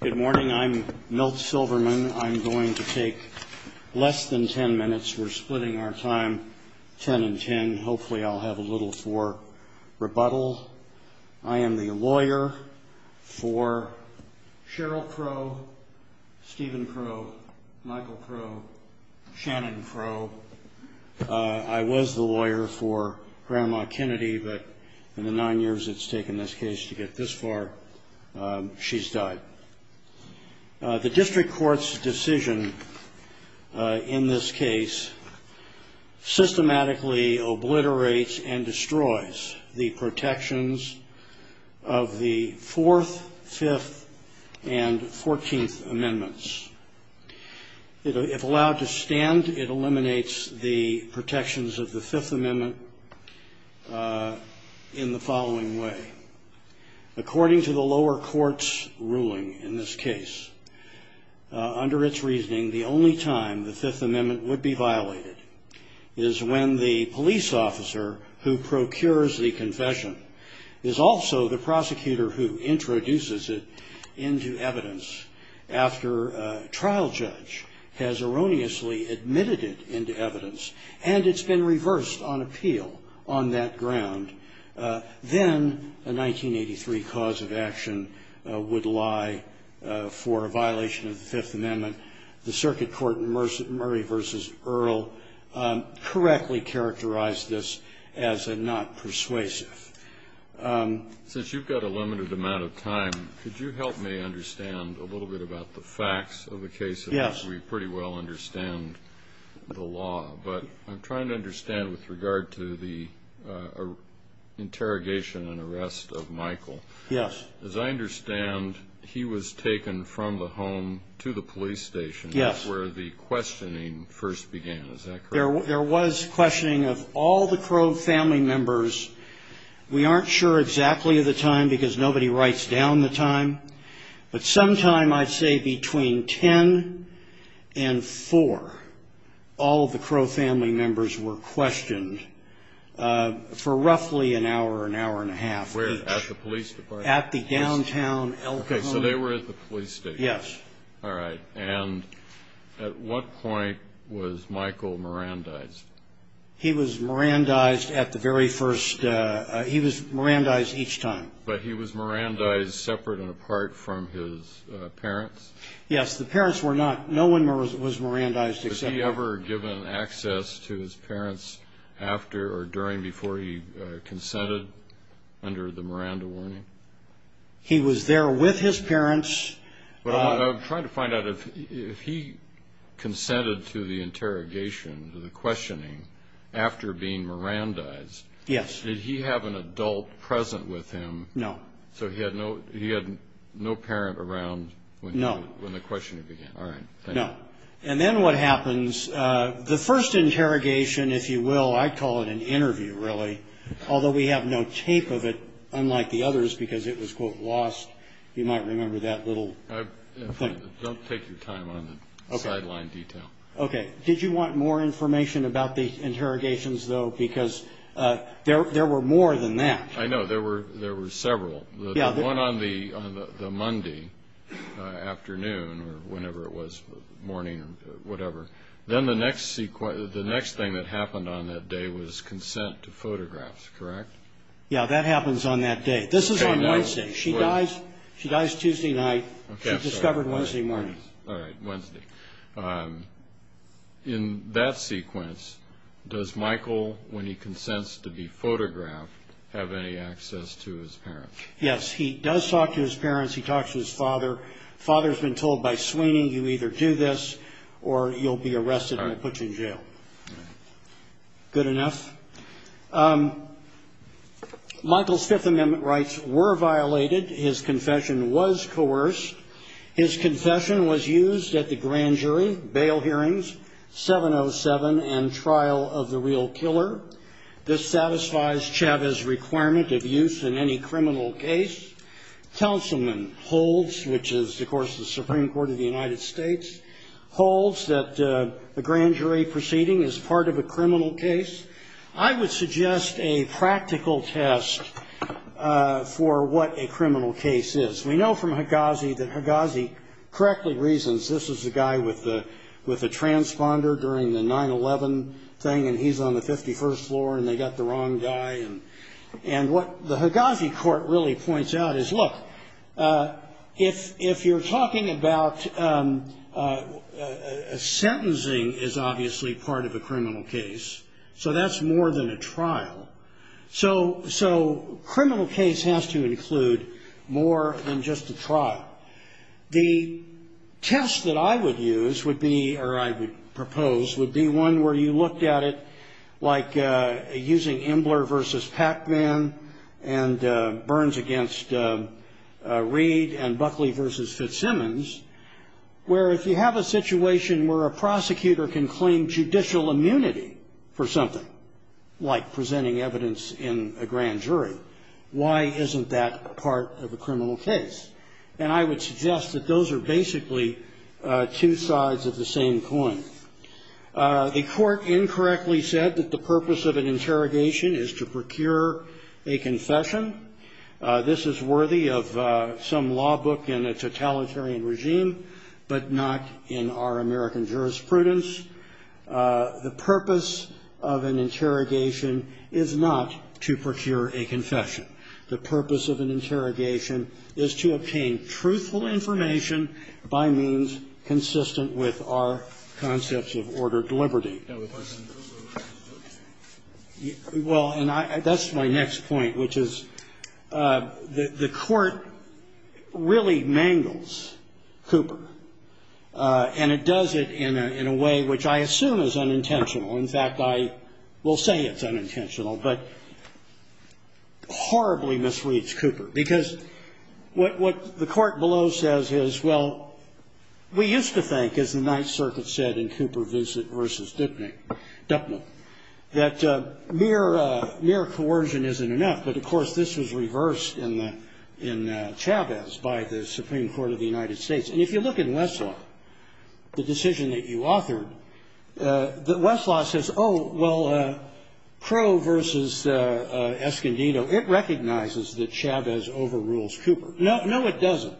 Good morning. I'm Milt Silverman. I'm going to take less than ten minutes. We're splitting our time ten and ten. Hopefully I'll have a little for rebuttal. I am the lawyer for Cheryl Crowe, Stephen Crowe, Michael Crowe, Shannon Crowe. I was the lawyer for Grandma Kennedy, but in the nine years it's taken this case to get this far, she's died. The district court's decision in this case systematically obliterates and destroys the protections of the Fourth, Fifth, and Fourteenth Amendments. If allowed to stand, it eliminates the protections of the Fifth Amendment in the following way. According to the lower court's ruling in this case, under its reasoning, the only time the Fifth Amendment would be violated is when the police officer who procures the confession is also the prosecutor who introduces it into evidence after a trial judge has erroneously admitted it into evidence, and it's been reversed on appeal on that ground. Then a 1983 cause of action would lie for a violation of the Fifth Amendment. The circuit court in Murray v. Earle correctly characterized this as a not persuasive. Since you've got a limited amount of time, could you help me understand a little bit about the facts of the case in which we pretty well understand the law? But I'm trying to understand with regard to the interrogation and arrest of Michael. Yes. As I understand, he was taken from the home to the police station. Yes. That's where the questioning first began. Is that correct? There was questioning of all the Crow family members. We aren't sure exactly of the time because nobody writes down the time, but sometime I'd say between 10 and 4, all of the Crow family members were questioned for roughly an hour, an hour and a half each. At the police department? At the downtown El Cajon. Okay, so they were at the police station. Yes. All right, and at what point was Michael Mirandized? He was Mirandized at the very first, he was Mirandized each time. But he was Mirandized separate and apart from his parents? Yes, the parents were not, no one was Mirandized except him. Was he ever given access to his parents after or during, before he consented under the Miranda warning? He was there with his parents. I'm trying to find out if he consented to the interrogation, to the questioning, after being Mirandized. Yes. Did he have an adult present with him? No. So he had no parent around when the questioning began? No. All right, thank you. And then what happens, the first interrogation, if you will, I call it an interview really, although we have no tape of it unlike the others because it was, quote, lost. You might remember that little thing. Don't take your time on the sideline detail. Okay, did you want more information about the interrogations, though, because there were more than that. I know, there were several. The one on the Monday afternoon or whenever it was, morning or whatever, then the next thing that happened on that day was consent to photographs, correct? Yes, that happens on that day. This is on Wednesday. She dies Tuesday night. She's discovered Wednesday morning. All right, Wednesday. In that sequence, does Michael, when he consents to be photographed, have any access to his parents? Yes, he does talk to his parents. He talks to his father. Father's been told by Sweeney, you either do this or you'll be arrested and they'll put you in jail. All right. Good enough. Michael's Fifth Amendment rights were violated. His confession was coerced. His confession was used at the grand jury, bail hearings, 707, and trial of the real killer. This satisfies Chavez's requirement of use in any criminal case. Counselman holds, which is, of course, the Supreme Court of the United States, holds that the grand jury proceeding is part of a criminal case. I would suggest a practical test for what a criminal case is. We know from Higazi that Higazi correctly reasons this is the guy with the transponder during the 9-11 thing, and he's on the 51st floor and they got the wrong guy. And what the Higazi court really points out is, look, if you're talking about sentencing is obviously part of a criminal case, So criminal case has to include more than just a trial. The test that I would use would be, or I would propose, would be one where you looked at it like using Embler v. Pacman and Burns v. Reed and Buckley v. Fitzsimmons, where if you have a situation where a prosecutor can claim judicial immunity for something, like presenting evidence in a grand jury, why isn't that part of a criminal case? And I would suggest that those are basically two sides of the same coin. The Court incorrectly said that the purpose of an interrogation is to procure a confession. This is worthy of some law book in a totalitarian regime, but not in our American jurisprudence. The purpose of an interrogation is not to procure a confession. The purpose of an interrogation is to obtain truthful information by means consistent with our concepts of ordered liberty. Well, and that's my next point, which is the Court really mangles Cooper, and it does it in a way which I assume is unintentional. In fact, I will say it's unintentional, but horribly misreads Cooper, because what the Court below says is, well, we used to think, as the Ninth Circuit said in Cooper v. Dupnall, that mere coercion isn't enough, but of course this was reversed in Chavez by the Supreme Court of the United States. And if you look in Westlaw, the decision that you authored, Westlaw says, oh, well, Crow v. Escondido, it recognizes that Chavez overrules Cooper. No, it doesn't.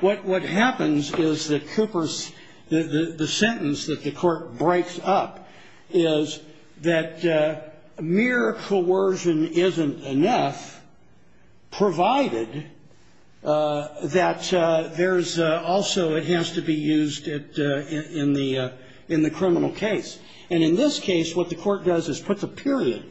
What happens is that Cooper's, the sentence that the Court breaks up is that mere coercion isn't enough, provided that there's also, it has to be used in the criminal case. And in this case, what the Court does is put the period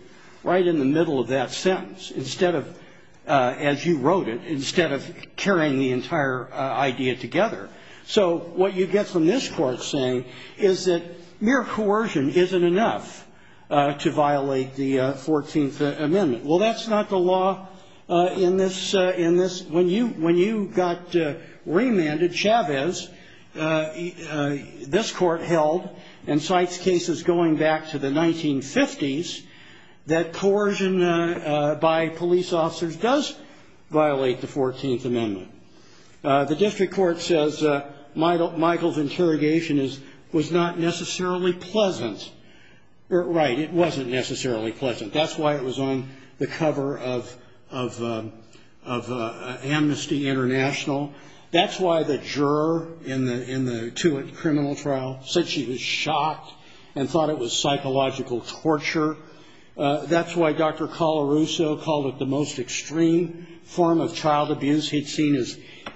right in the middle of that sentence, instead of, as you wrote it, instead of carrying the entire idea together. So what you get from this Court saying is that mere coercion isn't enough to violate the 14th Amendment. Well, that's not the law in this, when you got remanded, Chavez, this Court held, and cites cases going back to the 1950s, that coercion by police officers does violate the 14th Amendment. The district court says Michael's interrogation was not necessarily pleasant. Right, it wasn't necessarily pleasant. That's why it was on the cover of Amnesty International. That's why the juror in the Tewitt criminal trial said she was shocked and thought it was psychological torture. That's why Dr. Colarusso called it the most extreme form of child abuse he'd seen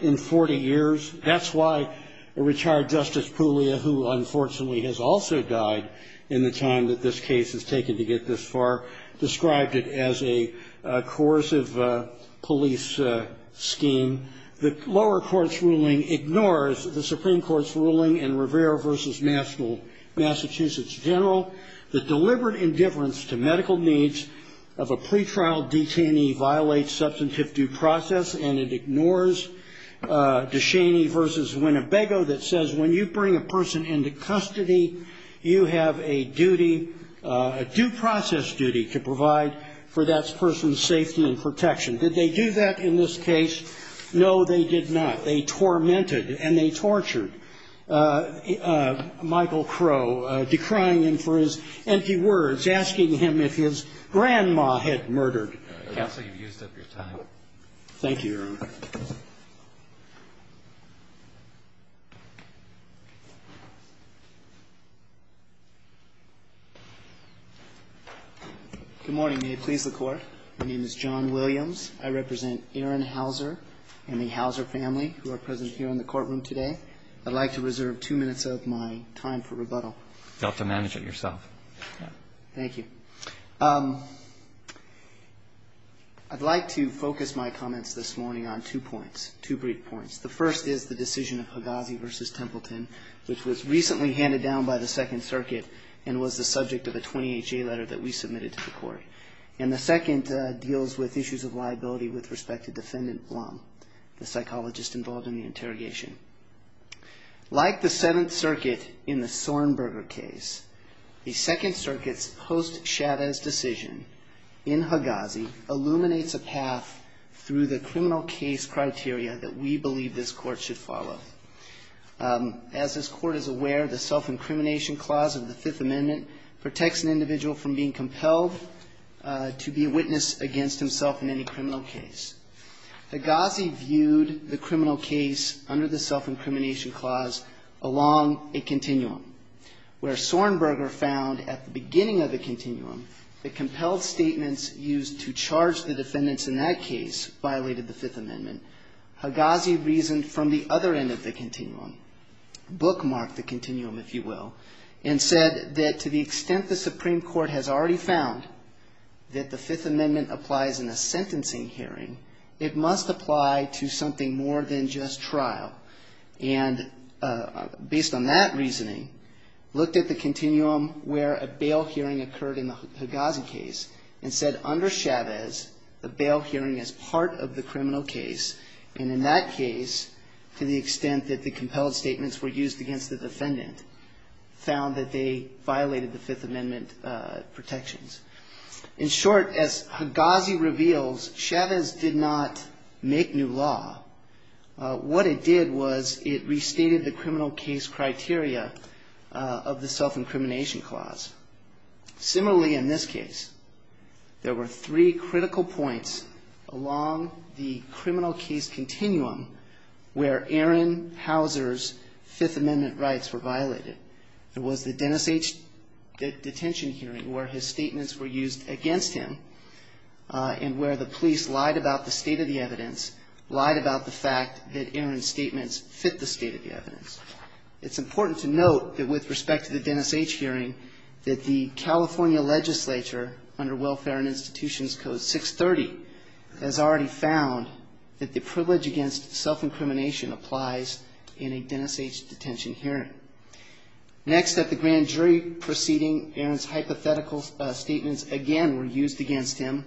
in 40 years. That's why a retired Justice Puglia, who unfortunately has also died in the time that this case has taken to get this far, described it as a coercive police scheme. The lower court's ruling ignores the Supreme Court's ruling in Rivera v. Massachusetts General that deliberate indifference to medical needs of a pretrial detainee violates substantive due process, and it ignores DeShaney v. Winnebago that says when you bring a person into custody, you have a duty, a due process duty, to provide for that person's safety and protection. Did they do that in this case? No, they did not. They tormented and they tortured Michael Crow, decrying him for his empty words, asking him if his grandma had murdered. Thank you, Your Honor. Good morning. May it please the Court. My name is John Williams. I represent Aaron Hauser and the Hauser family who are present here in the courtroom today. I'd like to reserve two minutes of my time for rebuttal. You'll have to manage it yourself. Thank you. I'd like to focus my comments this morning on two points, two brief points. The first is the decision of Hagazi v. Templeton, which was recently handed down by the Second Circuit and was the subject of a 28-J letter that we submitted to the Court. And the second deals with issues of liability with respect to Defendant Blum, the psychologist involved in the interrogation. Like the Seventh Circuit in the Sorenberger case, the Second Circuit's post-Shadda decision in Hagazi illuminates a path through the criminal case criteria that we believe this Court should follow. As this Court is aware, the self-incrimination clause of the Fifth Amendment protects an individual from being compelled to be a witness against himself in any criminal case. Hagazi viewed the criminal case under the self-incrimination clause along a continuum, where Sorenberger found at the beginning of the continuum that compelled statements used to charge the defendants in that case violated the Fifth Amendment. Hagazi reasoned from the other end of the continuum, bookmarked the continuum, if you will, and said that to the extent the Supreme Court has already found that the Fifth Amendment applies in a sentencing hearing, it must apply to something more than just trial. And based on that reasoning, looked at the continuum where a bail hearing occurred in the Hagazi case and said under Chavez, the bail hearing is part of the criminal case. And in that case, to the extent that the compelled statements were used against the defendant, found that they violated the Fifth Amendment protections. In short, as Hagazi reveals, Chavez did not make new law. What it did was it restated the criminal case criteria of the self-incrimination clause. Similarly, in this case, there were three critical points along the criminal case continuum where Aaron Hauser's Fifth Amendment rights were violated. There was the Dennis H. detention hearing where his statements were used against him and where the police lied about the state of the evidence, lied about the fact that Aaron's statements fit the state of the evidence. It's important to note that with respect to the Dennis H. hearing that the California legislature, under Welfare and Institutions Code 630, has already found that the privilege against self-incrimination applies in a Dennis H. detention hearing. Next, at the grand jury proceeding, Aaron's hypothetical statements again were used against him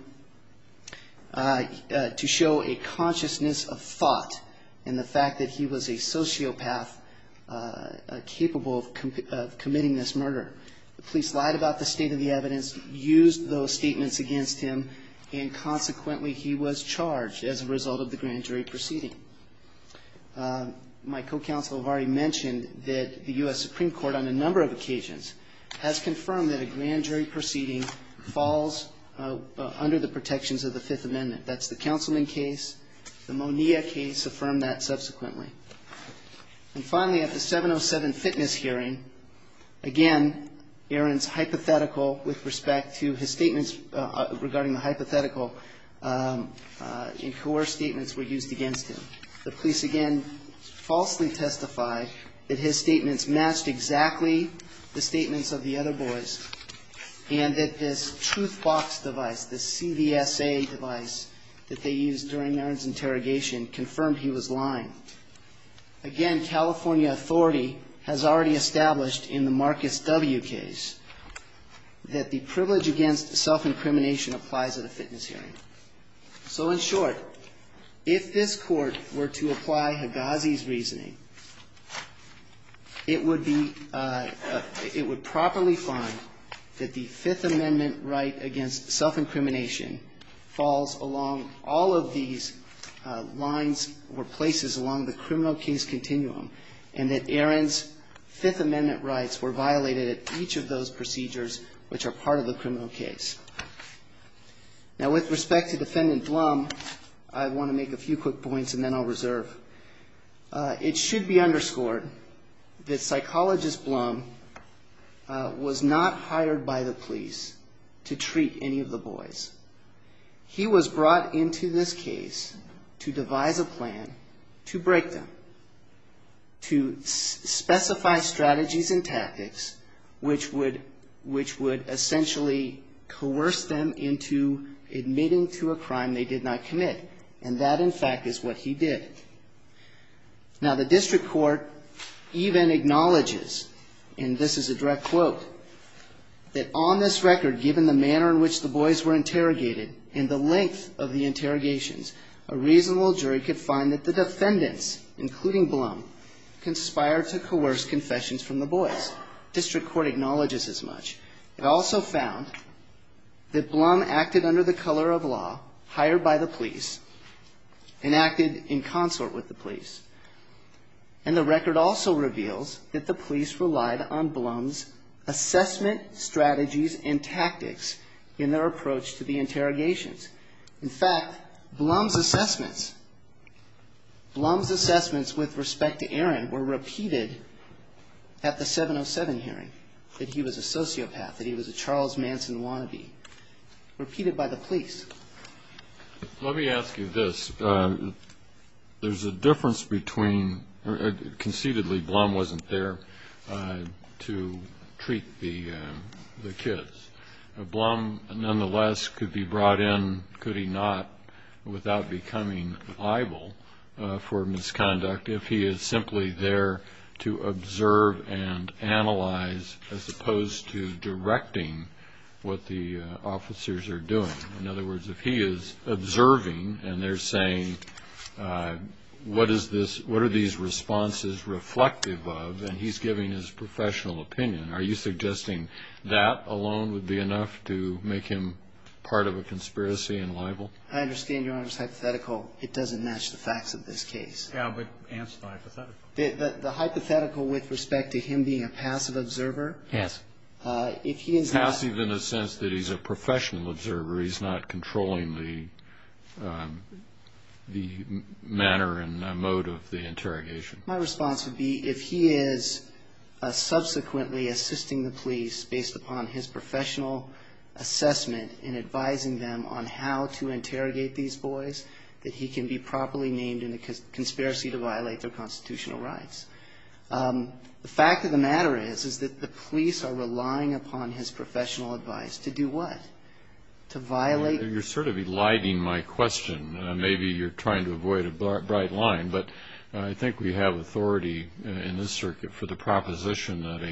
to show a consciousness of thought in the fact that he was a sociopath capable of committing this murder. The police lied about the state of the evidence, used those statements against him, and consequently he was charged as a result of the grand jury proceeding. My co-counsel have already mentioned that the U.S. Supreme Court on a number of occasions has confirmed that a grand jury proceeding falls under the protections of the Fifth Amendment. That's the Councilman case. The Monea case affirmed that subsequently. And finally, at the 707 fitness hearing, again, Aaron's hypothetical with respect to his statements regarding the hypothetical and coerced statements were used against him. The police again falsely testified that his statements matched exactly the statements of the other boys and that this truth box device, this CVSA device that they used during Aaron's interrogation confirmed he was lying. Again, California authority has already established in the Marcus W. case that the privilege against self-incrimination applies at a fitness hearing. So in short, if this Court were to apply Higazi's reasoning, it would be, it would properly find that the Fifth Amendment right against self-incrimination falls along all of these lines or places along the criminal case continuum and that Aaron's Fifth Amendment rights were violated at each of those procedures which are part of the criminal case. Now, with respect to Defendant Blum, I want to make a few quick points and then I'll reserve. It should be underscored that Psychologist Blum was not hired by the police to treat any of the boys. He was brought into this case to devise a plan to break them, to specify strategies and tactics which would essentially coerce them into admitting to a crime they did not commit. And that, in fact, is what he did. Now, the District Court even acknowledges, and this is a direct quote, that on this record, given the manner in which the boys were interrogated and the length of the interrogations, a reasonable jury could find that the defendants, including Blum, conspired to coerce confessions from the boys. District Court acknowledges as much. It also found that Blum acted under the color of law, hired by the police, and acted in consort with the police. And the record also reveals that the police relied on Blum's assessment strategies and tactics in their approach to the interrogations. In fact, Blum's assessments, Blum's assessments with respect to Aaron were repeated at the 707 hearing, that he was a sociopath, that he was a Charles Manson wannabe, repeated by the police. Let me ask you this. There's a difference between, conceitedly Blum wasn't there to treat the kids. Blum, nonetheless, could be brought in, could he not, without becoming liable for misconduct, if he is simply there to observe and analyze as opposed to directing what the officers are doing. In other words, if he is observing and they're saying, what is this, what are these responses reflective of, and he's giving his professional opinion. Are you suggesting that alone would be enough to make him part of a conspiracy and liable? I understand Your Honor's hypothetical. It doesn't match the facts of this case. Yeah, but answer the hypothetical. The hypothetical with respect to him being a passive observer. Passive. Passive in the sense that he's a professional observer. He's not controlling the manner and mode of the interrogation. My response would be, if he is subsequently assisting the police based upon his professional assessment in advising them on how to interrogate these boys, that he can be properly named in a conspiracy to violate their constitutional rights. The fact of the matter is, is that the police are relying upon his professional advice to do what? To violate. You're sort of eliding my question. Maybe you're trying to avoid a bright line, but I think we have authority in this circuit for the proposition that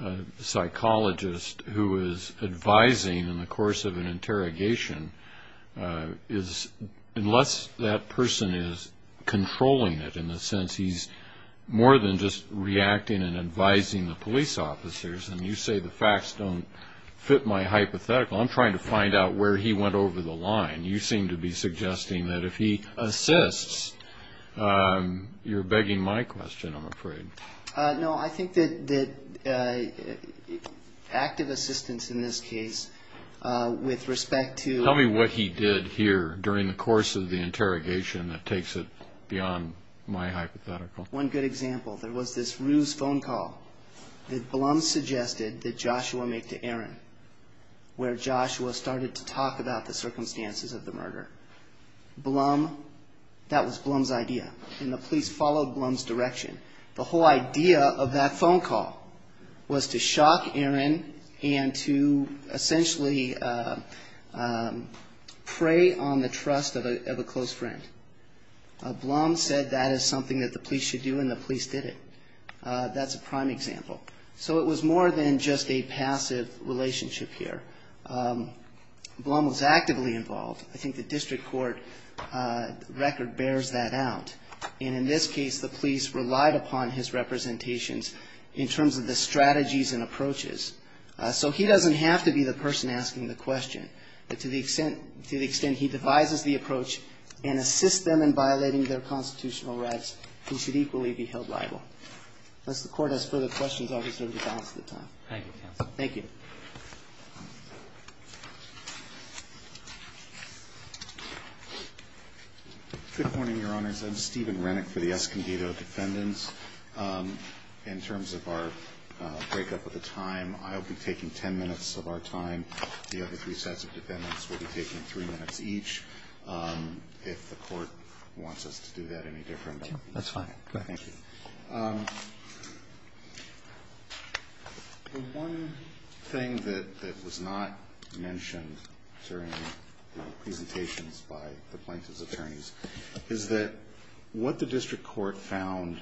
a psychologist who is advising in the course of an interrogation is, unless that person is controlling it in the sense he's more than just reacting and advising the police officers. And you say the facts don't fit my hypothetical. I'm trying to find out where he went over the line. You seem to be suggesting that if he assists, you're begging my question, I'm afraid. No, I think that active assistance in this case with respect to... One good example, there was this ruse phone call that Blum suggested that Joshua make to Aaron, where Joshua started to talk about the circumstances of the murder. Blum, that was Blum's idea, and the police followed Blum's direction. The whole idea of that phone call was to shock Aaron and to essentially prey on the trust of a close friend. Blum said that is something that the police should do, and the police did it. That's a prime example. So it was more than just a passive relationship here. Blum was actively involved. I think the district court record bears that out. And in this case, the police relied upon his representations in terms of the strategies and approaches. So he doesn't have to be the person asking the question. But to the extent he devises the approach and assists them in violating their constitutional rights, he should equally be held liable. Unless the Court has further questions, I'll reserve the balance of the time. Thank you, counsel. Thank you. Good morning, Your Honors. I'm Stephen Renick for the Escondido Defendants. In terms of our breakup of the time, I'll be taking ten minutes of our time. The other three sets of defendants will be taking three minutes each, if the Court wants us to do that any different. That's fine. Go ahead. Thank you. The one thing that was not mentioned during the presentations by the plaintiff's attorneys is that what the district court found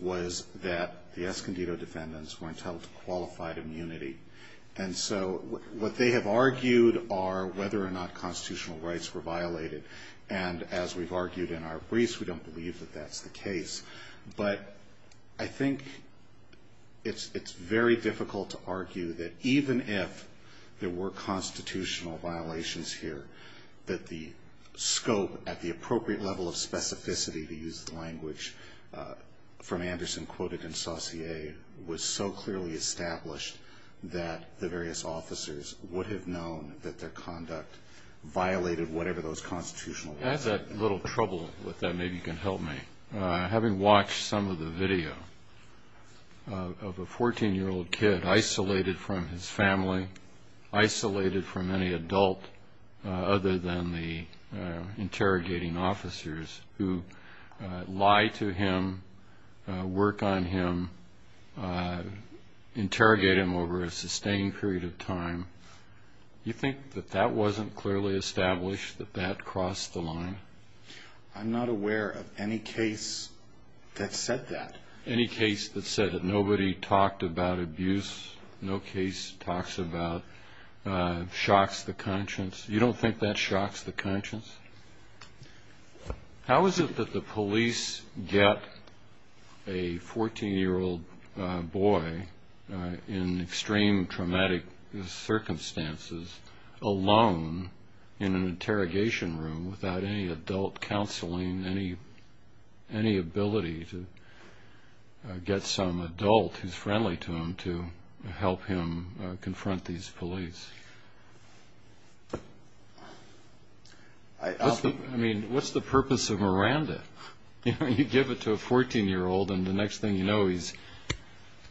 was that the Escondido defendants weren't held to qualified immunity. And so what they have argued are whether or not constitutional rights were violated. And as we've argued in our briefs, we don't believe that that's the case. But I think it's very difficult to argue that even if there were constitutional violations here, that the scope at the appropriate level of specificity, to use the language from Anderson quoted in Saussure, was so clearly established that the various officers would have known that their conduct violated whatever those constitutional rights were. I have a little trouble with that. Maybe you can help me. Having watched some of the video of a 14-year-old kid isolated from his family, isolated from any adult other than the interrogating officers who lie to him, work on him, interrogate him over a sustained period of time, you think that that wasn't clearly established, that that crossed the line? I'm not aware of any case that said that. Nobody talked about abuse. No case talks about shocks the conscience. You don't think that shocks the conscience? How is it that the police get a 14-year-old boy in extreme traumatic circumstances alone in an interrogation room without any adult counseling, any ability to get some adult who's friendly to him to help him confront these police? I mean, what's the purpose of Miranda? You give it to a 14-year-old and the next thing you know he's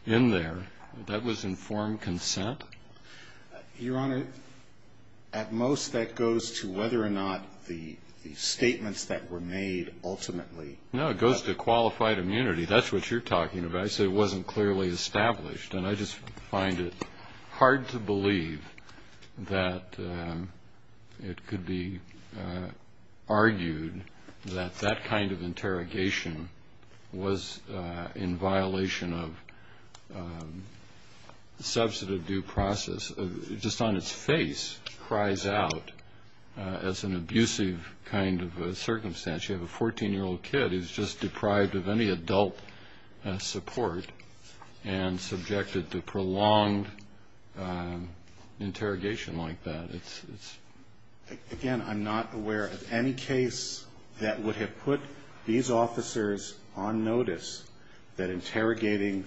in there. That was informed consent? Your Honor, at most that goes to whether or not the statements that were made ultimately. No, it goes to qualified immunity. That's what you're talking about. I say it wasn't clearly established. And I just find it hard to believe that it could be argued that that kind of interrogation was in violation of substantive due process. It just on its face cries out as an abusive kind of circumstance. You have a 14-year-old kid who's just deprived of any adult support and subjected to prolonged interrogation like that. Again, I'm not aware of any case that would have put these officers on notice that interrogating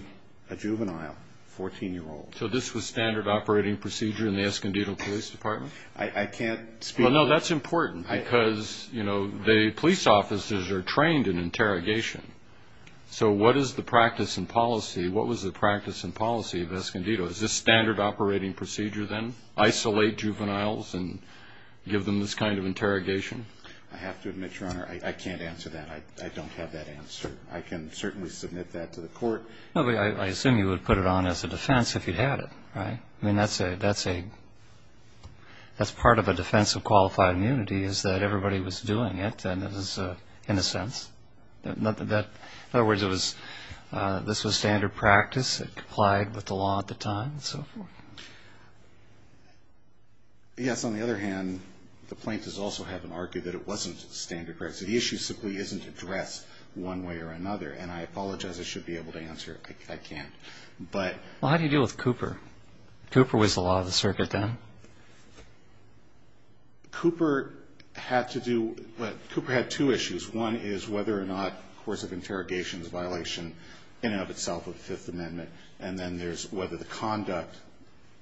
a juvenile 14-year-old. So this was standard operating procedure in the Escondido Police Department? I can't speak to that. Well, no, that's important because the police officers are trained in interrogation. So what is the practice and policy? What was the practice and policy of Escondido? Is this standard operating procedure then? Isolate juveniles and give them this kind of interrogation? I have to admit, Your Honor, I can't answer that. I don't have that answer. I can certainly submit that to the court. I assume you would put it on as a defense if you had it, right? I mean, that's part of a defense of qualified immunity is that everybody was doing it, in a sense. In other words, this was standard practice. It complied with the law at the time and so forth. Yes, on the other hand, the plaintiffs also have them argue that it wasn't standard practice. The issue simply isn't addressed one way or another. And I apologize. I should be able to answer it. I can't. Well, how do you deal with Cooper? Cooper was the law of the circuit then. Cooper had to do what? Cooper had two issues. One is whether or not the course of interrogation is a violation in and of itself of the Fifth Amendment. And then there's whether the conduct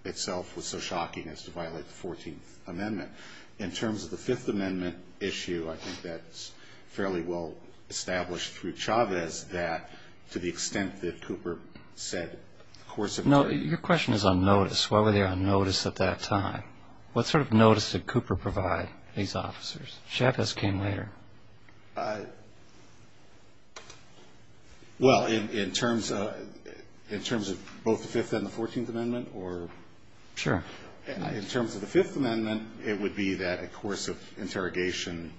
itself was so shocking as to violate the Fourteenth Amendment. In terms of the Fifth Amendment issue, I think that's fairly well established through Chavez that to the extent that Cooper said the course of interrogation. No, your question is on notice. Why were they on notice at that time? What sort of notice did Cooper provide these officers? Chavez came later. Well, in terms of both the Fifth and the Fourteenth Amendment or? Sure. In terms of the Fifth Amendment, it would be that a course of interrogation,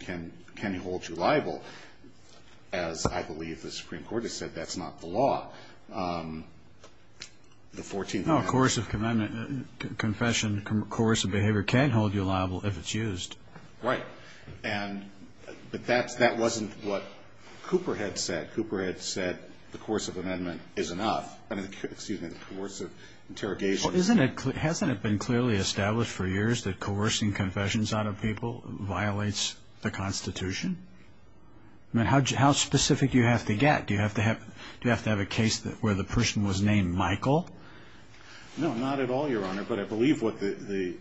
can you hold you liable? As I believe the Supreme Court has said, that's not the law. The Fourteenth Amendment. No, a course of amendment, confession, coercive behavior can hold you liable if it's used. Right. But that wasn't what Cooper had said. Cooper had said the course of amendment is enough. Excuse me, the course of interrogation. Well, hasn't it been clearly established for years that coercing confessions out of people violates the Constitution? I mean, how specific do you have to get? Do you have to have a case where the person was named Michael? No, not at all, Your Honor, but I believe what the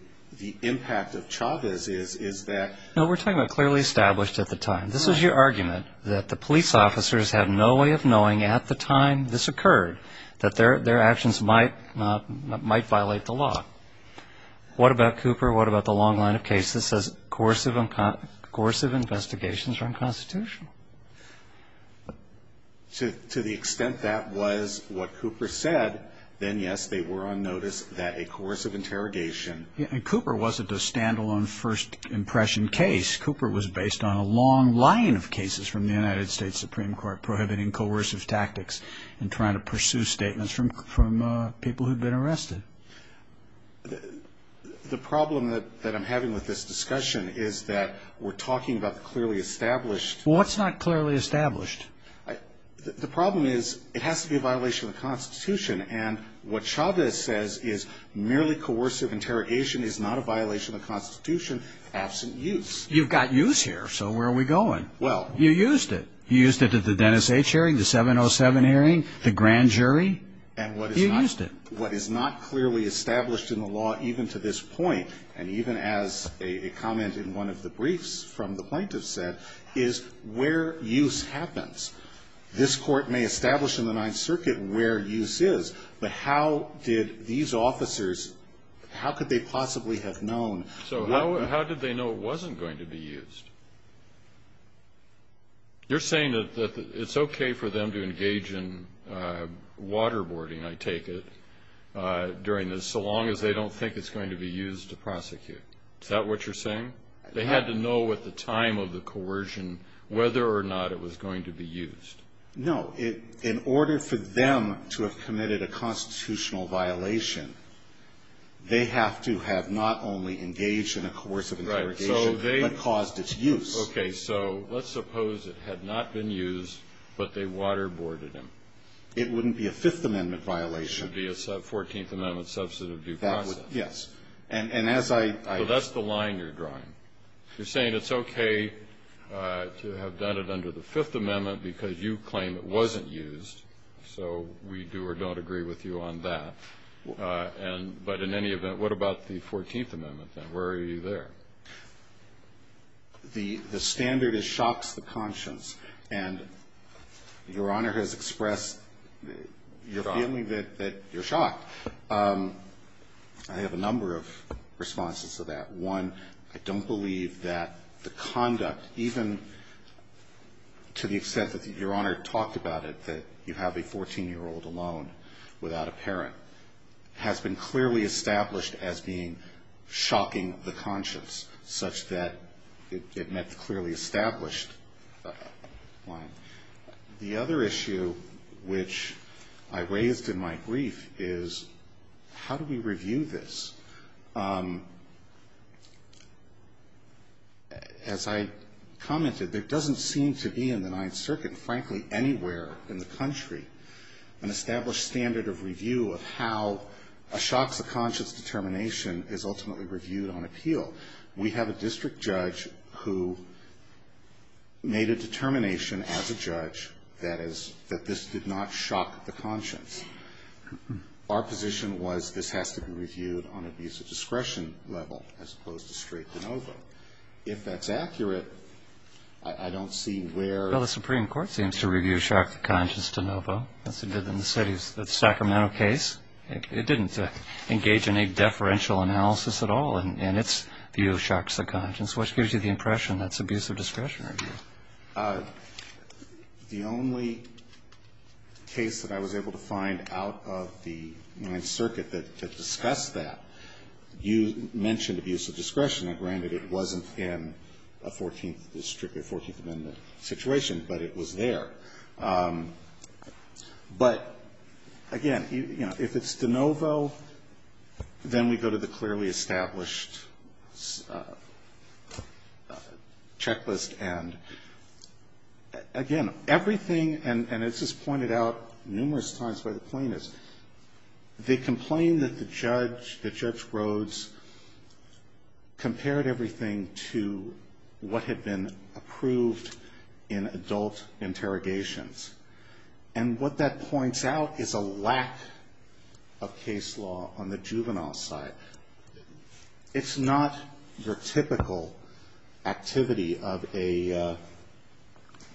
impact of Chavez is that. No, we're talking about clearly established at the time. This is your argument that the police officers have no way of knowing at the time this occurred that their actions might violate the law. What about Cooper? What about the long line of cases that says coercive investigations are unconstitutional? To the extent that was what Cooper said, then, yes, they were on notice that a course of interrogation. And Cooper wasn't a standalone first impression case. Cooper was based on a long line of cases from the United States Supreme Court prohibiting coercive tactics and trying to pursue statements from people who'd been arrested. The problem that I'm having with this discussion is that we're talking about clearly established. Well, what's not clearly established? The problem is it has to be a violation of the Constitution, and what Chavez says is merely coercive interrogation is not a violation of the Constitution, absent use. You've got use here, so where are we going? Well. You used it. You used it at the Dennis H. hearing, the 707 hearing, the grand jury. You used it. What is not clearly established in the law, even to this point, and even as a comment in one of the briefs from the plaintiff said, is where use happens. This Court may establish in the Ninth Circuit where use is, but how did these officers, how could they possibly have known? So how did they know it wasn't going to be used? You're saying that it's okay for them to engage in waterboarding, I take it, during this, so long as they don't think it's going to be used to prosecute. Is that what you're saying? They had to know at the time of the coercion whether or not it was going to be used. No. In order for them to have committed a constitutional violation, they have to have not only engaged in a coercive interrogation, but caused its use. Okay. So let's suppose it had not been used, but they waterboarded him. It wouldn't be a Fifth Amendment violation. It would be a Fourteenth Amendment substantive due process. Yes. And as I ---- So that's the line you're drawing. You're saying it's okay to have done it under the Fifth Amendment because you claim it wasn't used, so we do or don't agree with you on that. But in any event, what about the Fourteenth Amendment then? Where are you there? The standard is shocks the conscience. And Your Honor has expressed your feeling that you're shocked. I have a number of responses to that. One, I don't believe that the conduct, even to the extent that Your Honor talked about it, that you have a 14-year-old alone without a parent, has been clearly established as being shocking the conscience, such that it met the clearly established line. The other issue which I raised in my brief is how do we review this? As I commented, there doesn't seem to be in the Ninth Circuit, frankly, anywhere in the country, an established standard of review of how a shocks the conscience determination is ultimately reviewed on appeal. We have a district judge who made a determination as a judge that is that this did not shock the conscience. Our position was this has to be reviewed on abuse of discretion level as opposed to straight de novo. If that's accurate, I don't see where the Supreme Court seems to review shocks the conscience de novo as it did in the city's Sacramento case. It didn't engage in any deferential analysis at all in its view of shocks the conscience, which gives you the impression that's abuse of discretion review. The only case that I was able to find out of the Ninth Circuit that discussed that, you mentioned abuse of discretion. Granted, it wasn't in a 14th district or 14th amendment situation, but it was there. But again, you know, if it's de novo, then we go to the clearly established checklist. And again, everything, and this is pointed out numerous times by the plaintiffs, they complained that the judge, Judge Rhodes, compared everything to what had been approved in adult interrogations. And what that points out is a lack of case law on the juvenile side. It's not your typical activity of a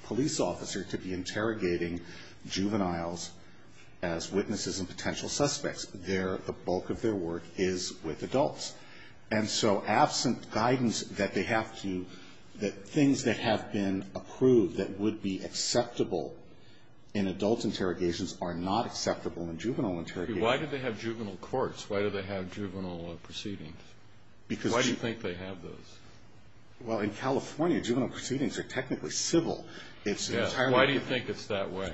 police officer to be interrogating juveniles as witnesses and potential suspects. Their, the bulk of their work is with adults. And so absent guidance that they have to, that things that have been approved that would be acceptable in adult interrogations are not acceptable in juvenile interrogations. Why do they have juvenile courts? Why do they have juvenile proceedings? Why do you think they have those? Well, in California, juvenile proceedings are technically civil. Why do you think it's that way?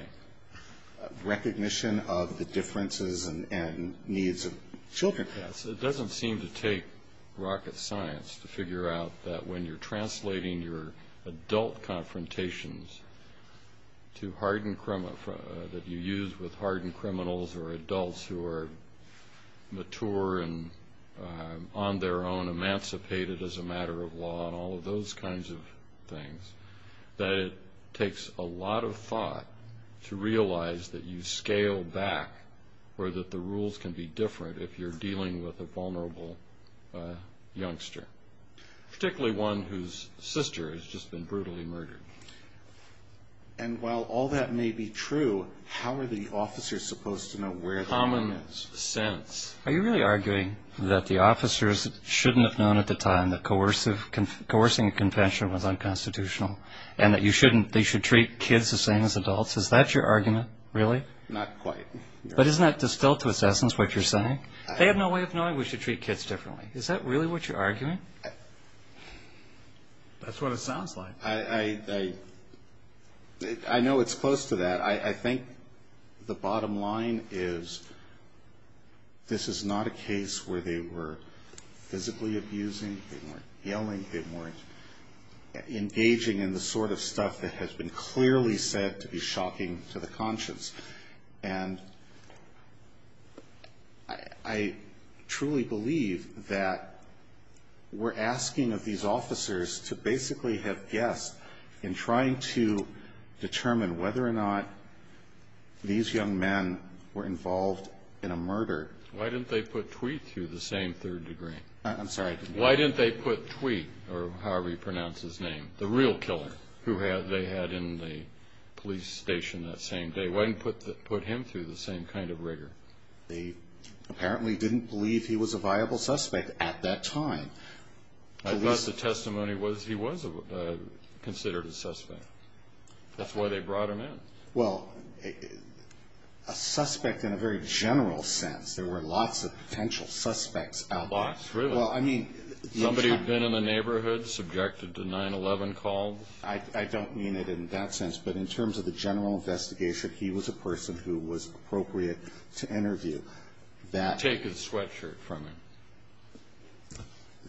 Recognition of the differences and needs of children. It doesn't seem to take rocket science to figure out that when you're translating your adult confrontations to hardened, that you use with hardened criminals or adults who are mature and on their own emancipated as a matter of law and all of those kinds of things, that it takes a lot of thought to realize that you scale back or that the rules can be different if you're dealing with a vulnerable youngster. Particularly one whose sister has just been brutally murdered. And while all that may be true, how are the officers supposed to know where the line is? Common sense. Are you really arguing that the officers shouldn't have known at the time that coercing a convention was unconstitutional and that you shouldn't, they should treat kids the same as adults? Is that your argument, really? Not quite. But isn't that distilled to its essence what you're saying? They have no way of knowing we should treat kids differently. Is that really what you're arguing? That's what it sounds like. I know it's close to that. I think the bottom line is this is not a case where they were physically abusing, they weren't yelling, they weren't engaging in the sort of stuff that has been clearly said to be shocking to the conscience. And I truly believe that we're asking of these officers to basically have guessed in trying to determine whether or not these young men were involved in a murder. Why didn't they put Tweet through the same third degree? I'm sorry. Why didn't they put Tweet, or however you pronounce his name, the real killer, who they had in the police station that same day? Why didn't they put him through the same kind of rigor? They apparently didn't believe he was a viable suspect at that time. Unless the testimony was he was considered a suspect. That's why they brought him in. Well, a suspect in a very general sense. There were lots of potential suspects out there. Lots, really. Somebody had been in the neighborhood, subjected to 9-11 calls. I don't mean it in that sense, but in terms of the general investigation, he was a person who was appropriate to interview. Take his sweatshirt from him.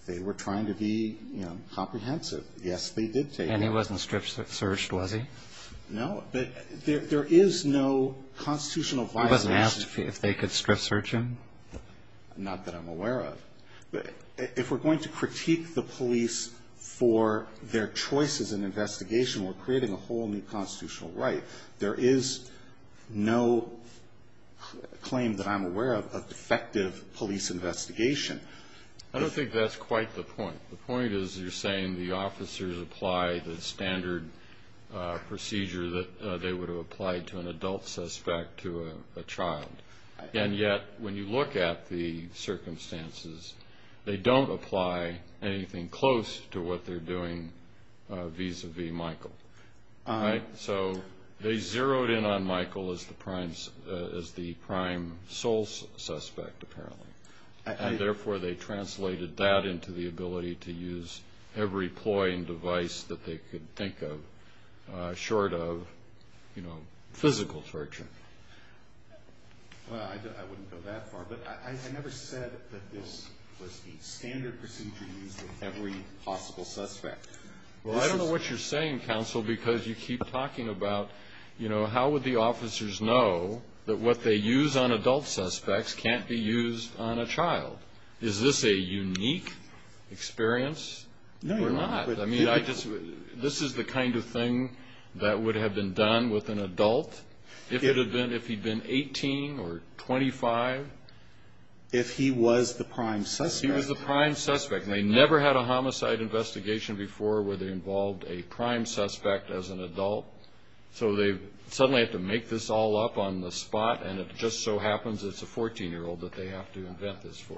They were trying to be comprehensive. Yes, they did take it. And he wasn't strip searched, was he? No. But there is no constitutional violation. He wasn't asked if they could strip search him? Not that I'm aware of. If we're going to critique the police for their choices in investigation, we're creating a whole new constitutional right. There is no claim that I'm aware of of defective police investigation. I don't think that's quite the point. The point is you're saying the officers applied the standard procedure that they would have applied to an adult suspect to a child. And yet, when you look at the circumstances, they don't apply anything close to what they're doing vis-a-vis Michael. So they zeroed in on Michael as the prime sole suspect, apparently. And, therefore, they translated that into the ability to use every ploy and device that they could think of short of physical torture. Well, I wouldn't go that far. But I never said that this was the standard procedure used with every possible suspect. Well, I don't know what you're saying, Counsel, because you keep talking about how would the officers know that what they use on adult suspects can't be used on a child. Is this a unique experience or not? I mean, this is the kind of thing that would have been done with an adult, if he'd been 18 or 25. If he was the prime suspect. If he was the prime suspect. And they never had a homicide investigation before where they involved a prime suspect as an adult. So they suddenly have to make this all up on the spot, and it just so happens it's a 14-year-old that they have to invent this for.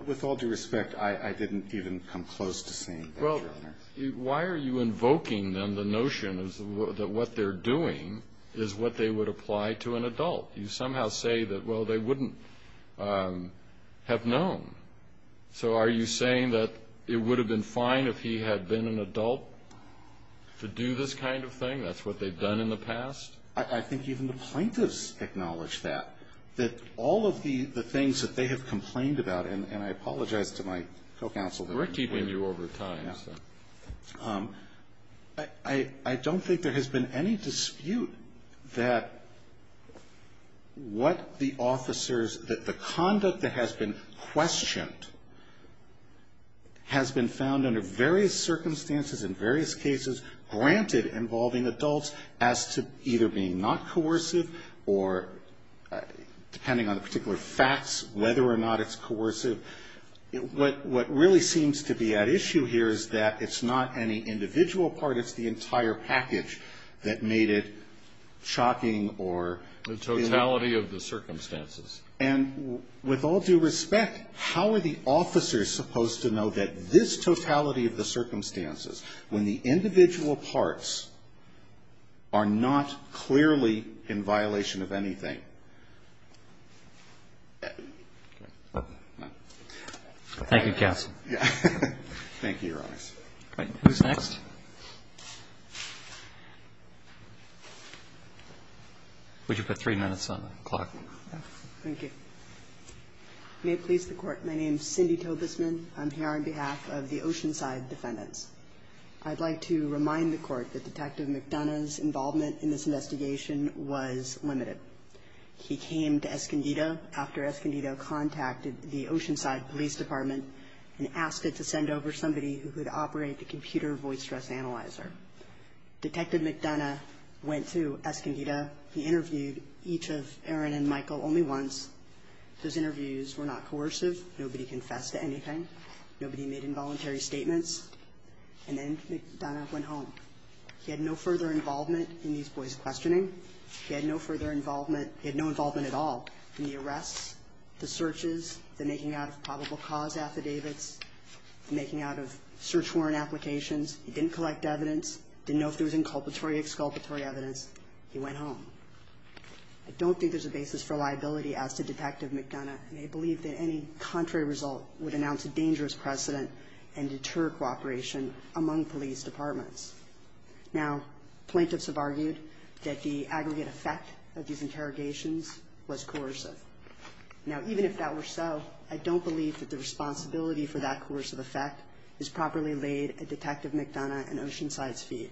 Why are you invoking, then, the notion that what they're doing is what they would apply to an adult? You somehow say that, well, they wouldn't have known. So are you saying that it would have been fine if he had been an adult to do this kind of thing? That's what they've done in the past? I think even the plaintiffs acknowledge that, that all of the things that they have complained about, and I apologize to my co-counsel. We're keeping you over time. I don't think there has been any dispute that what the officers, that the conduct that has been questioned has been found under various circumstances in various cases, granted involving adults as to either being not coercive or, depending on the particular facts, whether or not it's coercive. What really seems to be at issue here is that it's not any individual part. It's the entire package that made it shocking or The totality of the circumstances. And with all due respect, how are the officers supposed to know that this totality of the circumstances when the individual parts are not clearly in violation of anything? Thank you, counsel. Thank you, Your Honor. Who's next? Would you put three minutes on the clock? Thank you. May it please the Court. My name is Cindy Tobesman. I'm here on behalf of the Oceanside Defendants. I'd like to remind the Court that Detective McDonough's involvement in this investigation was limited. He came to Escondido after Escondido contacted the Oceanside Police Department and asked it to send over somebody who could operate the computer voice stress analyzer. Detective McDonough went to Escondido. He interviewed each of Aaron and Michael only once. Those interviews were not coercive. Nobody confessed to anything. Nobody made involuntary statements. He had no further involvement in these boys' questioning. At the time, he had no further involvement. He had no involvement at all in the arrests, the searches, the making out of probable cause affidavits, the making out of search warrant applications. He didn't collect evidence, didn't know if there was inculpatory or exculpatory evidence. He went home. I don't think there's a basis for liability as to Detective McDonough, and I believe that any contrary result would announce a dangerous precedent and deter cooperation among police departments. Now, plaintiffs have argued that the aggregate effect of these interrogations was coercive. Now, even if that were so, I don't believe that the responsibility for that coercive effect is properly laid at Detective McDonough and Oceanside's feet.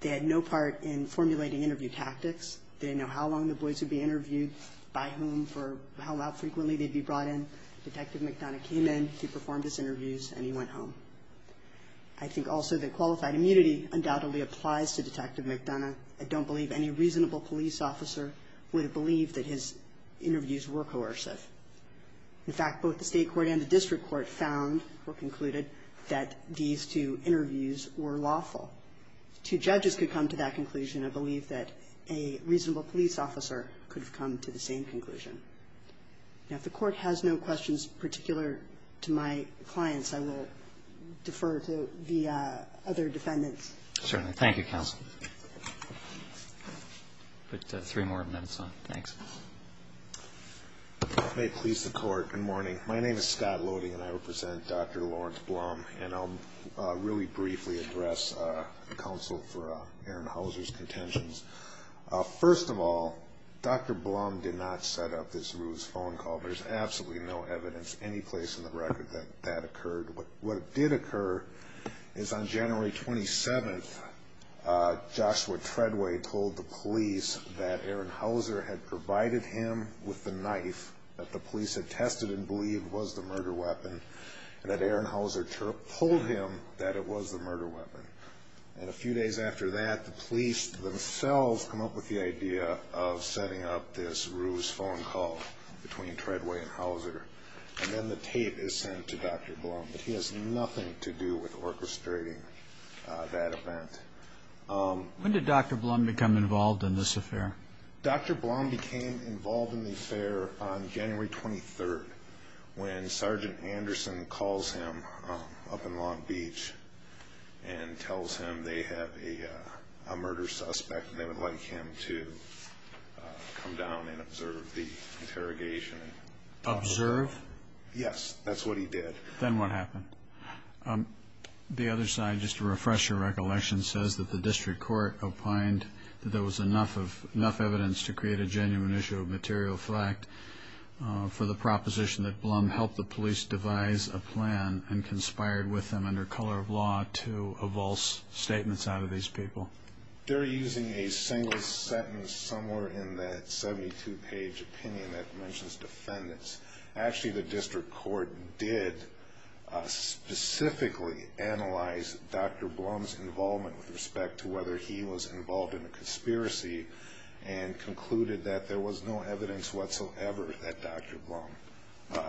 They had no part in formulating interview tactics. They didn't know how long the boys would be interviewed, by whom, for how frequently they'd be brought in. Detective McDonough came in, he performed his interviews, and he went home. I think also that qualified immunity undoubtedly applies to Detective McDonough. I don't believe any reasonable police officer would believe that his interviews were coercive. In fact, both the State Court and the District Court found or concluded that these two interviews were lawful. Two judges could come to that conclusion. I believe that a reasonable police officer could have come to the same conclusion. Now, if the Court has no questions particular to my clients, I will defer to the other defendants. Certainly. Thank you, Counsel. I'll put three more minutes on. Thanks. If it may please the Court, good morning. My name is Scott Lody, and I represent Dr. Lawrence Blum, and I'll really briefly address counsel for Aaron Hauser's contentions. First of all, Dr. Blum did not set up this ruse phone call. There's absolutely no evidence anyplace in the record that that occurred. What did occur is on January 27th, Joshua Treadway told the police that Aaron Hauser had provided him with the knife that the police had tested and believed was the murder weapon, and that Aaron Hauser told him that it was the murder weapon. And a few days after that, the police themselves come up with the idea of setting up this ruse phone call between Treadway and Hauser, and then the tape is sent to Dr. Blum. But he has nothing to do with orchestrating that event. When did Dr. Blum become involved in this affair? Dr. Blum became involved in the affair on January 23rd when Sergeant Anderson calls him up in Long Beach and tells him they have a murder suspect and they would like him to come down and observe the interrogation. Observe? Yes, that's what he did. Then what happened? The other side, just to refresh your recollection, says that the district court opined that there was enough evidence to create a genuine issue of material fact for the proposition that Blum helped the police devise a plan and conspired with them under color of law to avulse statements out of these people. They're using a single sentence somewhere in that 72-page opinion that mentions defendants. Actually, the district court did specifically analyze Dr. Blum's involvement with respect to whether he was involved in a conspiracy and concluded that there was no evidence whatsoever that Dr. Blum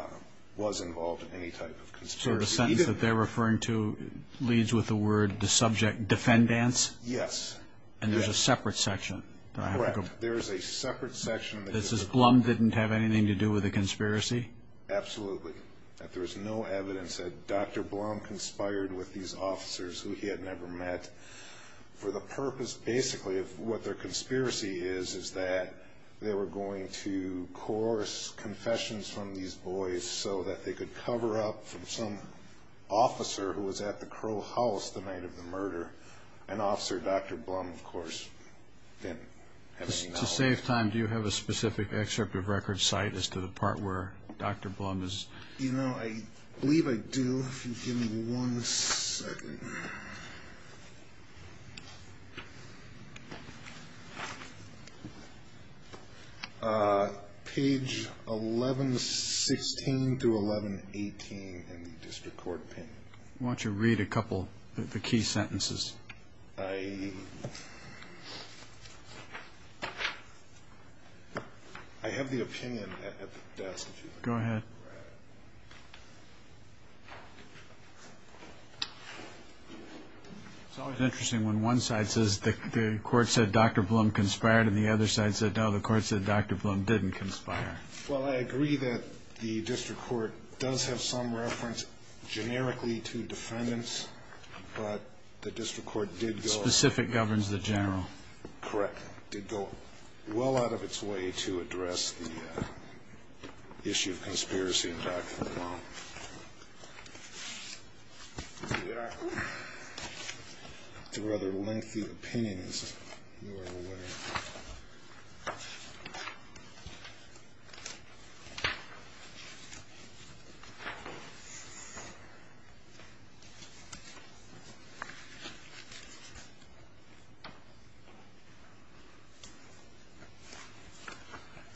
was involved in any type of conspiracy. So the sentence that they're referring to leads with the word defendants? Yes. And there's a separate section? Correct. There is a separate section. This says Blum didn't have anything to do with the conspiracy? Absolutely. That there was no evidence that Dr. Blum conspired with these officers who he had never met for the purpose, basically, if what their conspiracy is is that they were going to coerce confessions from these boys so that they could cover up from some officer who was at the Crow House the night of the murder, an officer Dr. Blum, of course, didn't have any knowledge of. To save time, do you have a specific excerpt of record cite as to the part where Dr. Blum is? You know, I believe I do. If you give me one second. Page 1116 through 1118 in the district court opinion. Why don't you read a couple of the key sentences? I have the opinion at the desk. Go ahead. It's always interesting when one side says the court said Dr. Blum conspired and the other side said, no, the court said Dr. Blum didn't conspire. Well, I agree that the district court does have some reference generically to defendants, but the district court did go. Specific governs the general. Correct. Did go well out of its way to address the issue of conspiracy in Dr. Blum. It's a rather lengthy opinion.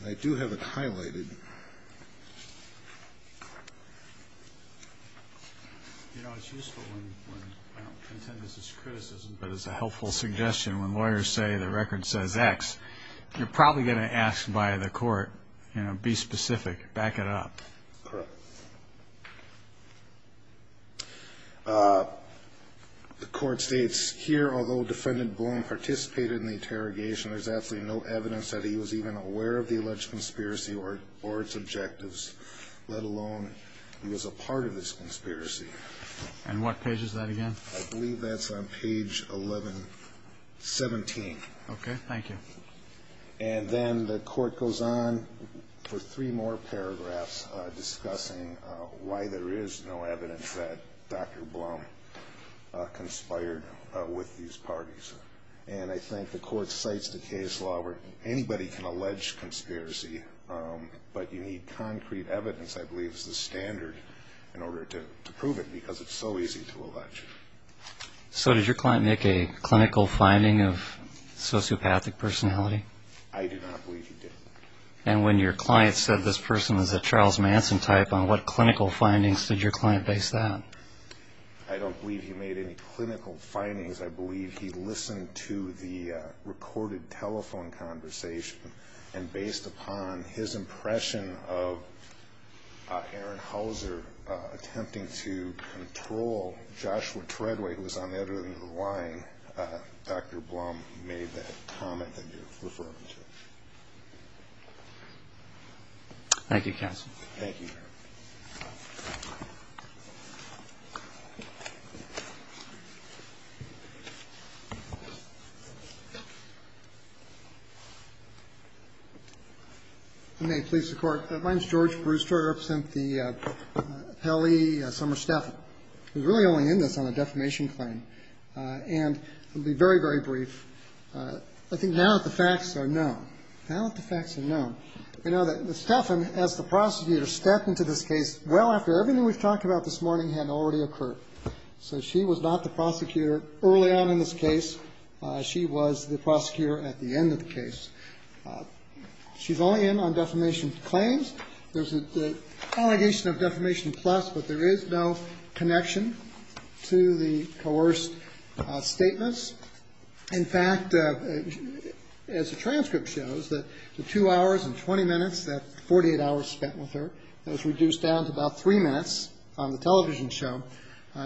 I do have it highlighted. You know, it's useful when I don't contend this is criticism, but it's a helpful suggestion when lawyers say the record says X, you're probably going to ask by the court, you know, be specific, back it up. Correct. The court states here, although defendant Blum participated in the interrogation, there's absolutely no evidence that he was even aware of the alleged conspiracy or its objectives, let alone he was a part of this conspiracy. And what page is that again? I believe that's on page 1117. Okay. Thank you. And then the court goes on for three more paragraphs discussing why there is no evidence that Dr. Blum conspired with these parties. And I think the court cites the case law where anybody can allege conspiracy, but you need concrete evidence, I believe, is the standard in order to prove it because it's so easy to allege. So did your client make a clinical finding of sociopathic personality? I do not believe he did. And when your client said this person was a Charles Manson type, on what clinical findings did your client base that? I don't believe he made any clinical findings. I believe he listened to the recorded telephone conversation, and based upon his impression of Aaron Hauser attempting to control Joshua Treadway, who was on the other end of the line, Dr. Blum made that comment that you're referring to. Thank you, counsel. Thank you. Thank you. If you may, please, Your Court. My name is George Brewster. I represent the Pele-Summer-Steffen. I was really only in this on a defamation claim, and I'll be very, very brief. I think now that the facts are known, now that the facts are known, we know that Steffen, as the prosecutor, stepped into this case well after everything we've talked about this morning had already occurred. So she was not the prosecutor early on in this case. She was the prosecutor at the end of the case. She's only in on defamation claims. There's an allegation of defamation plus, but there is no connection to the coerced statements. In fact, as the transcript shows, the two hours and 20 minutes, that 48 hours spent with her, was reduced down to about three minutes on the television show.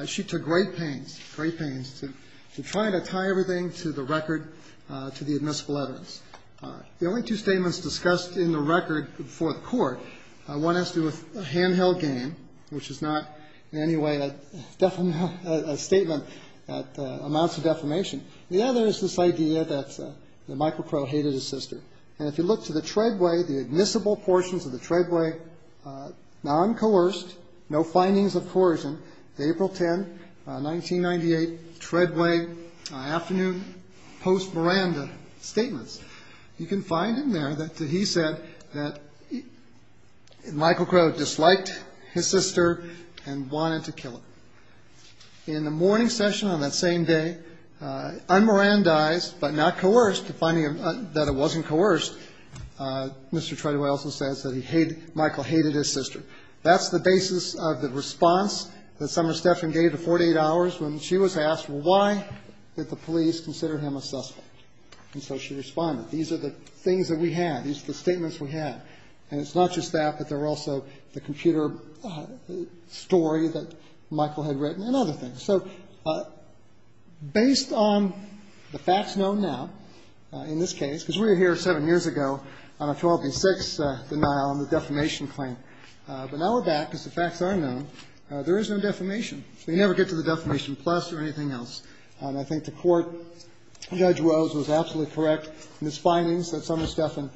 She took great pains, great pains, to try to tie everything to the record to the admissible evidence. The only two statements discussed in the record before the Court, one has to do with a handheld game, which is not in any way a statement that amounts to defamation. The other is this idea that Michael Crow hated his sister. And if you look to the treadway, the admissible portions of the treadway, non-coerced, no findings of coercion, April 10, 1998, treadway afternoon post-miranda statements, you can find in there that he said that Michael Crow disliked his sister and wanted to kill her. In the morning session on that same day, un-mirandized but not coerced, finding that it wasn't coerced, Mr. Treadway also says that he hated, Michael hated his sister. That's the basis of the response that Sumner Stephan gave to 48 hours when she was asked, well, why did the police consider him a suspect? And so she responded, these are the things that we have, these are the statements we have. And it's not just that, but there were also the computer story that Michael had written and other things. So based on the facts known now in this case, because we were here seven years ago on a 12-6 denial on the defamation claim, but now we're back because the facts are known, there is no defamation. So you never get to the defamation plus or anything else. And I think the Court, Judge Rose was absolutely correct in his findings that Sumner Stephan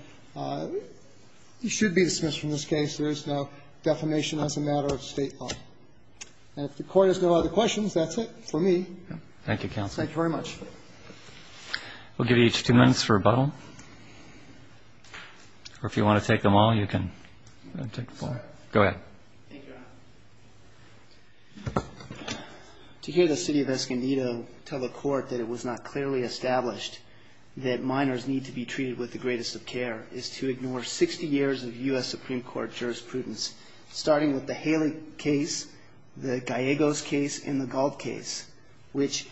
should be dismissed from this case. There is no defamation as a matter of State law. And if the Court has no other questions, that's it for me. Thank you, counsel. Thank you very much. We'll give each two minutes for rebuttal. Or if you want to take them all, you can take them all. Go ahead. Thank you, Your Honor. To hear the city of Escondido tell the Court that it was not clearly established that minors need to be treated with the greatest of care is to ignore 60 years of U.S. Supreme Court jurisprudence, starting with the Haley case, the Gallegos case, and the Gold case, which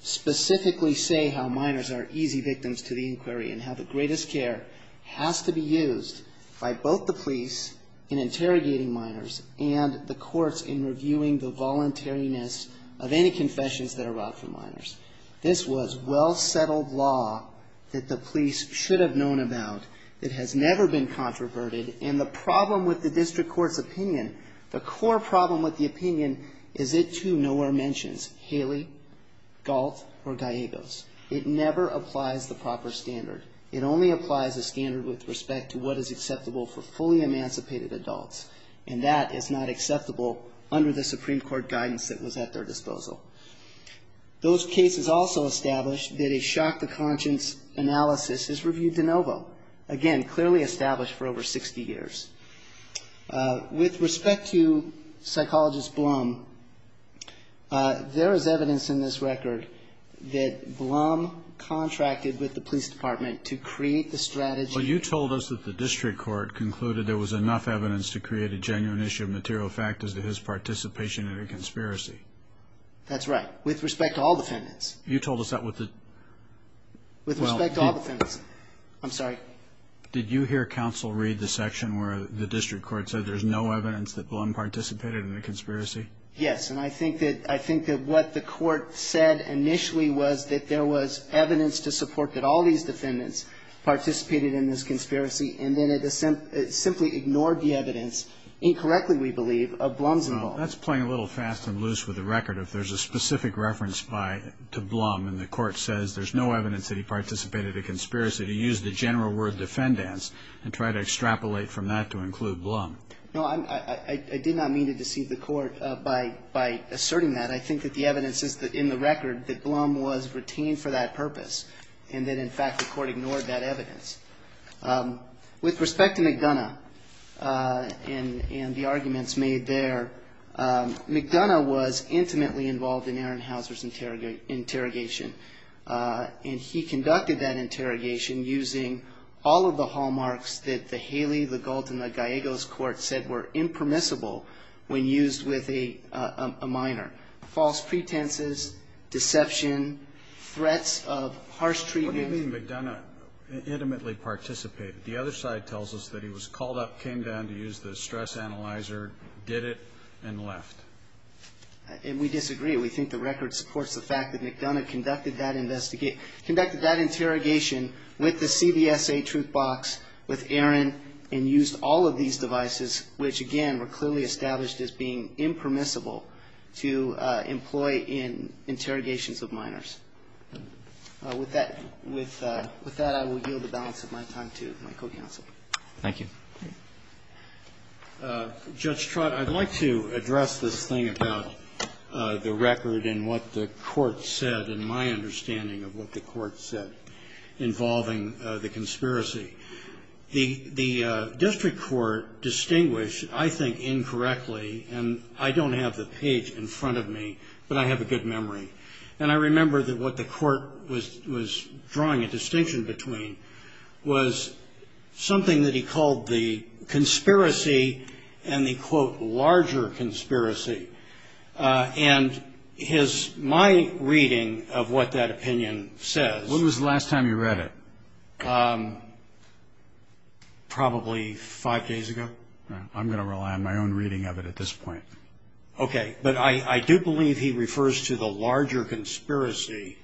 specifically say how minors are easy victims to the inquiry and how the greatest care has to be used by both the police in interrogating minors and the courts in reviewing the voluntariness of any confessions that are brought from minors. This was well-settled law that the police should have known about. It has never been controverted. And the problem with the district court's opinion, the core problem with the opinion is it too nowhere mentions Haley, Galt, or Gallegos. It never applies the proper standard. It only applies the standard with respect to what is acceptable for fully emancipated adults, and that is not acceptable under the Supreme Court guidance that was at their disposal. Those cases also establish that a shock to conscience analysis is reviewed de novo, again, clearly established for over 60 years. With respect to psychologist Blum, there is evidence in this record that Blum contracted with the police department to create the strategy. But you told us that the district court concluded there was enough evidence to create a genuine issue of material factors to his participation in a conspiracy. That's right. With respect to all defendants. You told us that with the... With respect to all defendants. I'm sorry. Did you hear counsel read the section where the district court said there's no evidence that Blum participated in the conspiracy? Yes. And I think that what the court said initially was that there was evidence to support that all these defendants participated in this conspiracy, and then it simply ignored the evidence, incorrectly we believe, of Blum's involvement. Well, that's playing a little fast and loose with the record. If there's a specific reference to Blum and the court says there's no evidence that he participated in the conspiracy, to use the general word defendants and try to extrapolate from that to include Blum. No, I did not mean to deceive the court by asserting that. I think that the evidence in the record that Blum was retained for that purpose and that, in fact, the court ignored that evidence. With respect to McDonough and the arguments made there, McDonough was intimately involved in Aaron Hauser's interrogation, and he conducted that interrogation using all of the hallmarks that the Haley, the Gould, and the Gallegos court said were impermissible when used with a minor, false pretenses, deception, threats of harsh treatment. We believe McDonough intimately participated. The other side tells us that he was called up, came down to use the stress analyzer, did it, and left. And we disagree. We think the record supports the fact that McDonough conducted that interrogation with the CBSA truth box, with Aaron, and used all of these devices, which again were clearly established as being impermissible to employ in interrogations of minors. With that, I will yield the balance of my time to my co-counsel. Roberts. Thank you. Judge Trott, I'd like to address this thing about the record and what the court said and my understanding of what the court said involving the conspiracy. The district court distinguished, I think, incorrectly, and I don't have the page in front of me, but I have a good memory. And I remember that what the court was drawing a distinction between was something that he called the conspiracy and the, quote, larger conspiracy. And my reading of what that opinion says. When was the last time you read it? Probably five days ago. I'm going to rely on my own reading of it at this point. Okay. But I do believe he refers to the larger conspiracy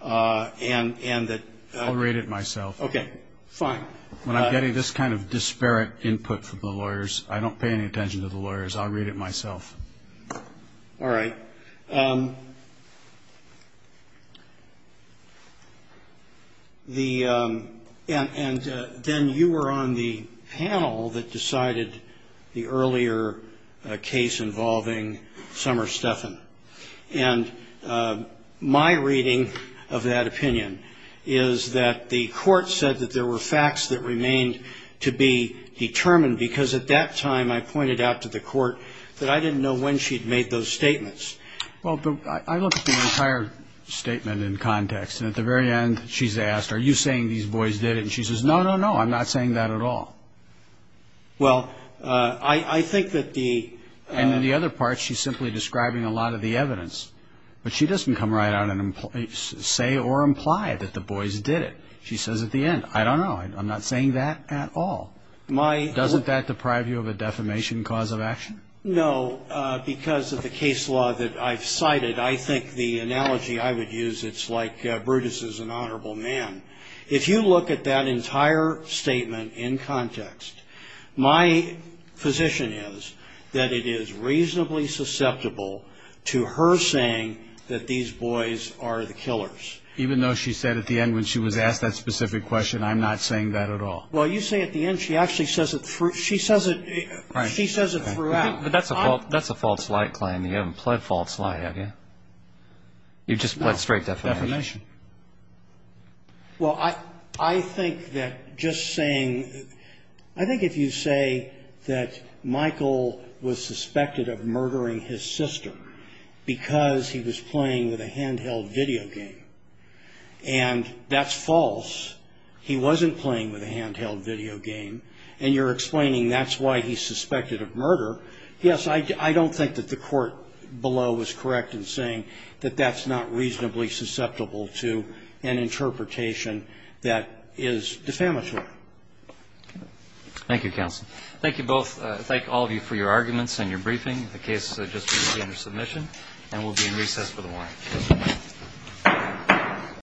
and that. I'll read it myself. Okay. Fine. When I'm getting this kind of disparate input from the lawyers, I don't pay any attention to the lawyers. I'll read it myself. All right. And then you were on the panel that decided the earlier case involving Summer Steffen. And my reading of that opinion is that the court said that there were facts that remained to be determined, because at that time, I pointed out to the court that I didn't know when she'd made those statements. Well, I looked at the entire statement in context. And at the very end, she's asked, are you saying these boys did it? And she says, no, no, no, I'm not saying that at all. Well, I think that the – And then the other part, she's simply describing a lot of the evidence. But she doesn't come right out and say or imply that the boys did it. She says at the end, I don't know, I'm not saying that at all. Doesn't that deprive you of a defamation cause of action? No. Because of the case law that I've cited, I think the analogy I would use, it's like Brutus is an honorable man. If you look at that entire statement in context, my position is that it is reasonably susceptible to her saying that these boys are the killers. Even though she said at the end when she was asked that specific question, I'm not saying that at all. Well, you say at the end she actually says it – she says it throughout. But that's a false light, Klein. You haven't pled false light, have you? You've just pled straight defamation. No, defamation. Well, I think that just saying – I think if you say that Michael was suspected of murdering his sister because he was playing with a handheld video game, and that's false. He wasn't playing with a handheld video game. And you're explaining that's why he's suspected of murder. Yes, I don't think that the court below is correct in saying that that's not reasonably susceptible to an interpretation that is defamatory. Thank you, counsel. Thank you both. Thank all of you for your arguments and your briefing. The case has just been presented for submission. And we'll be in recess for the morning. Thank you.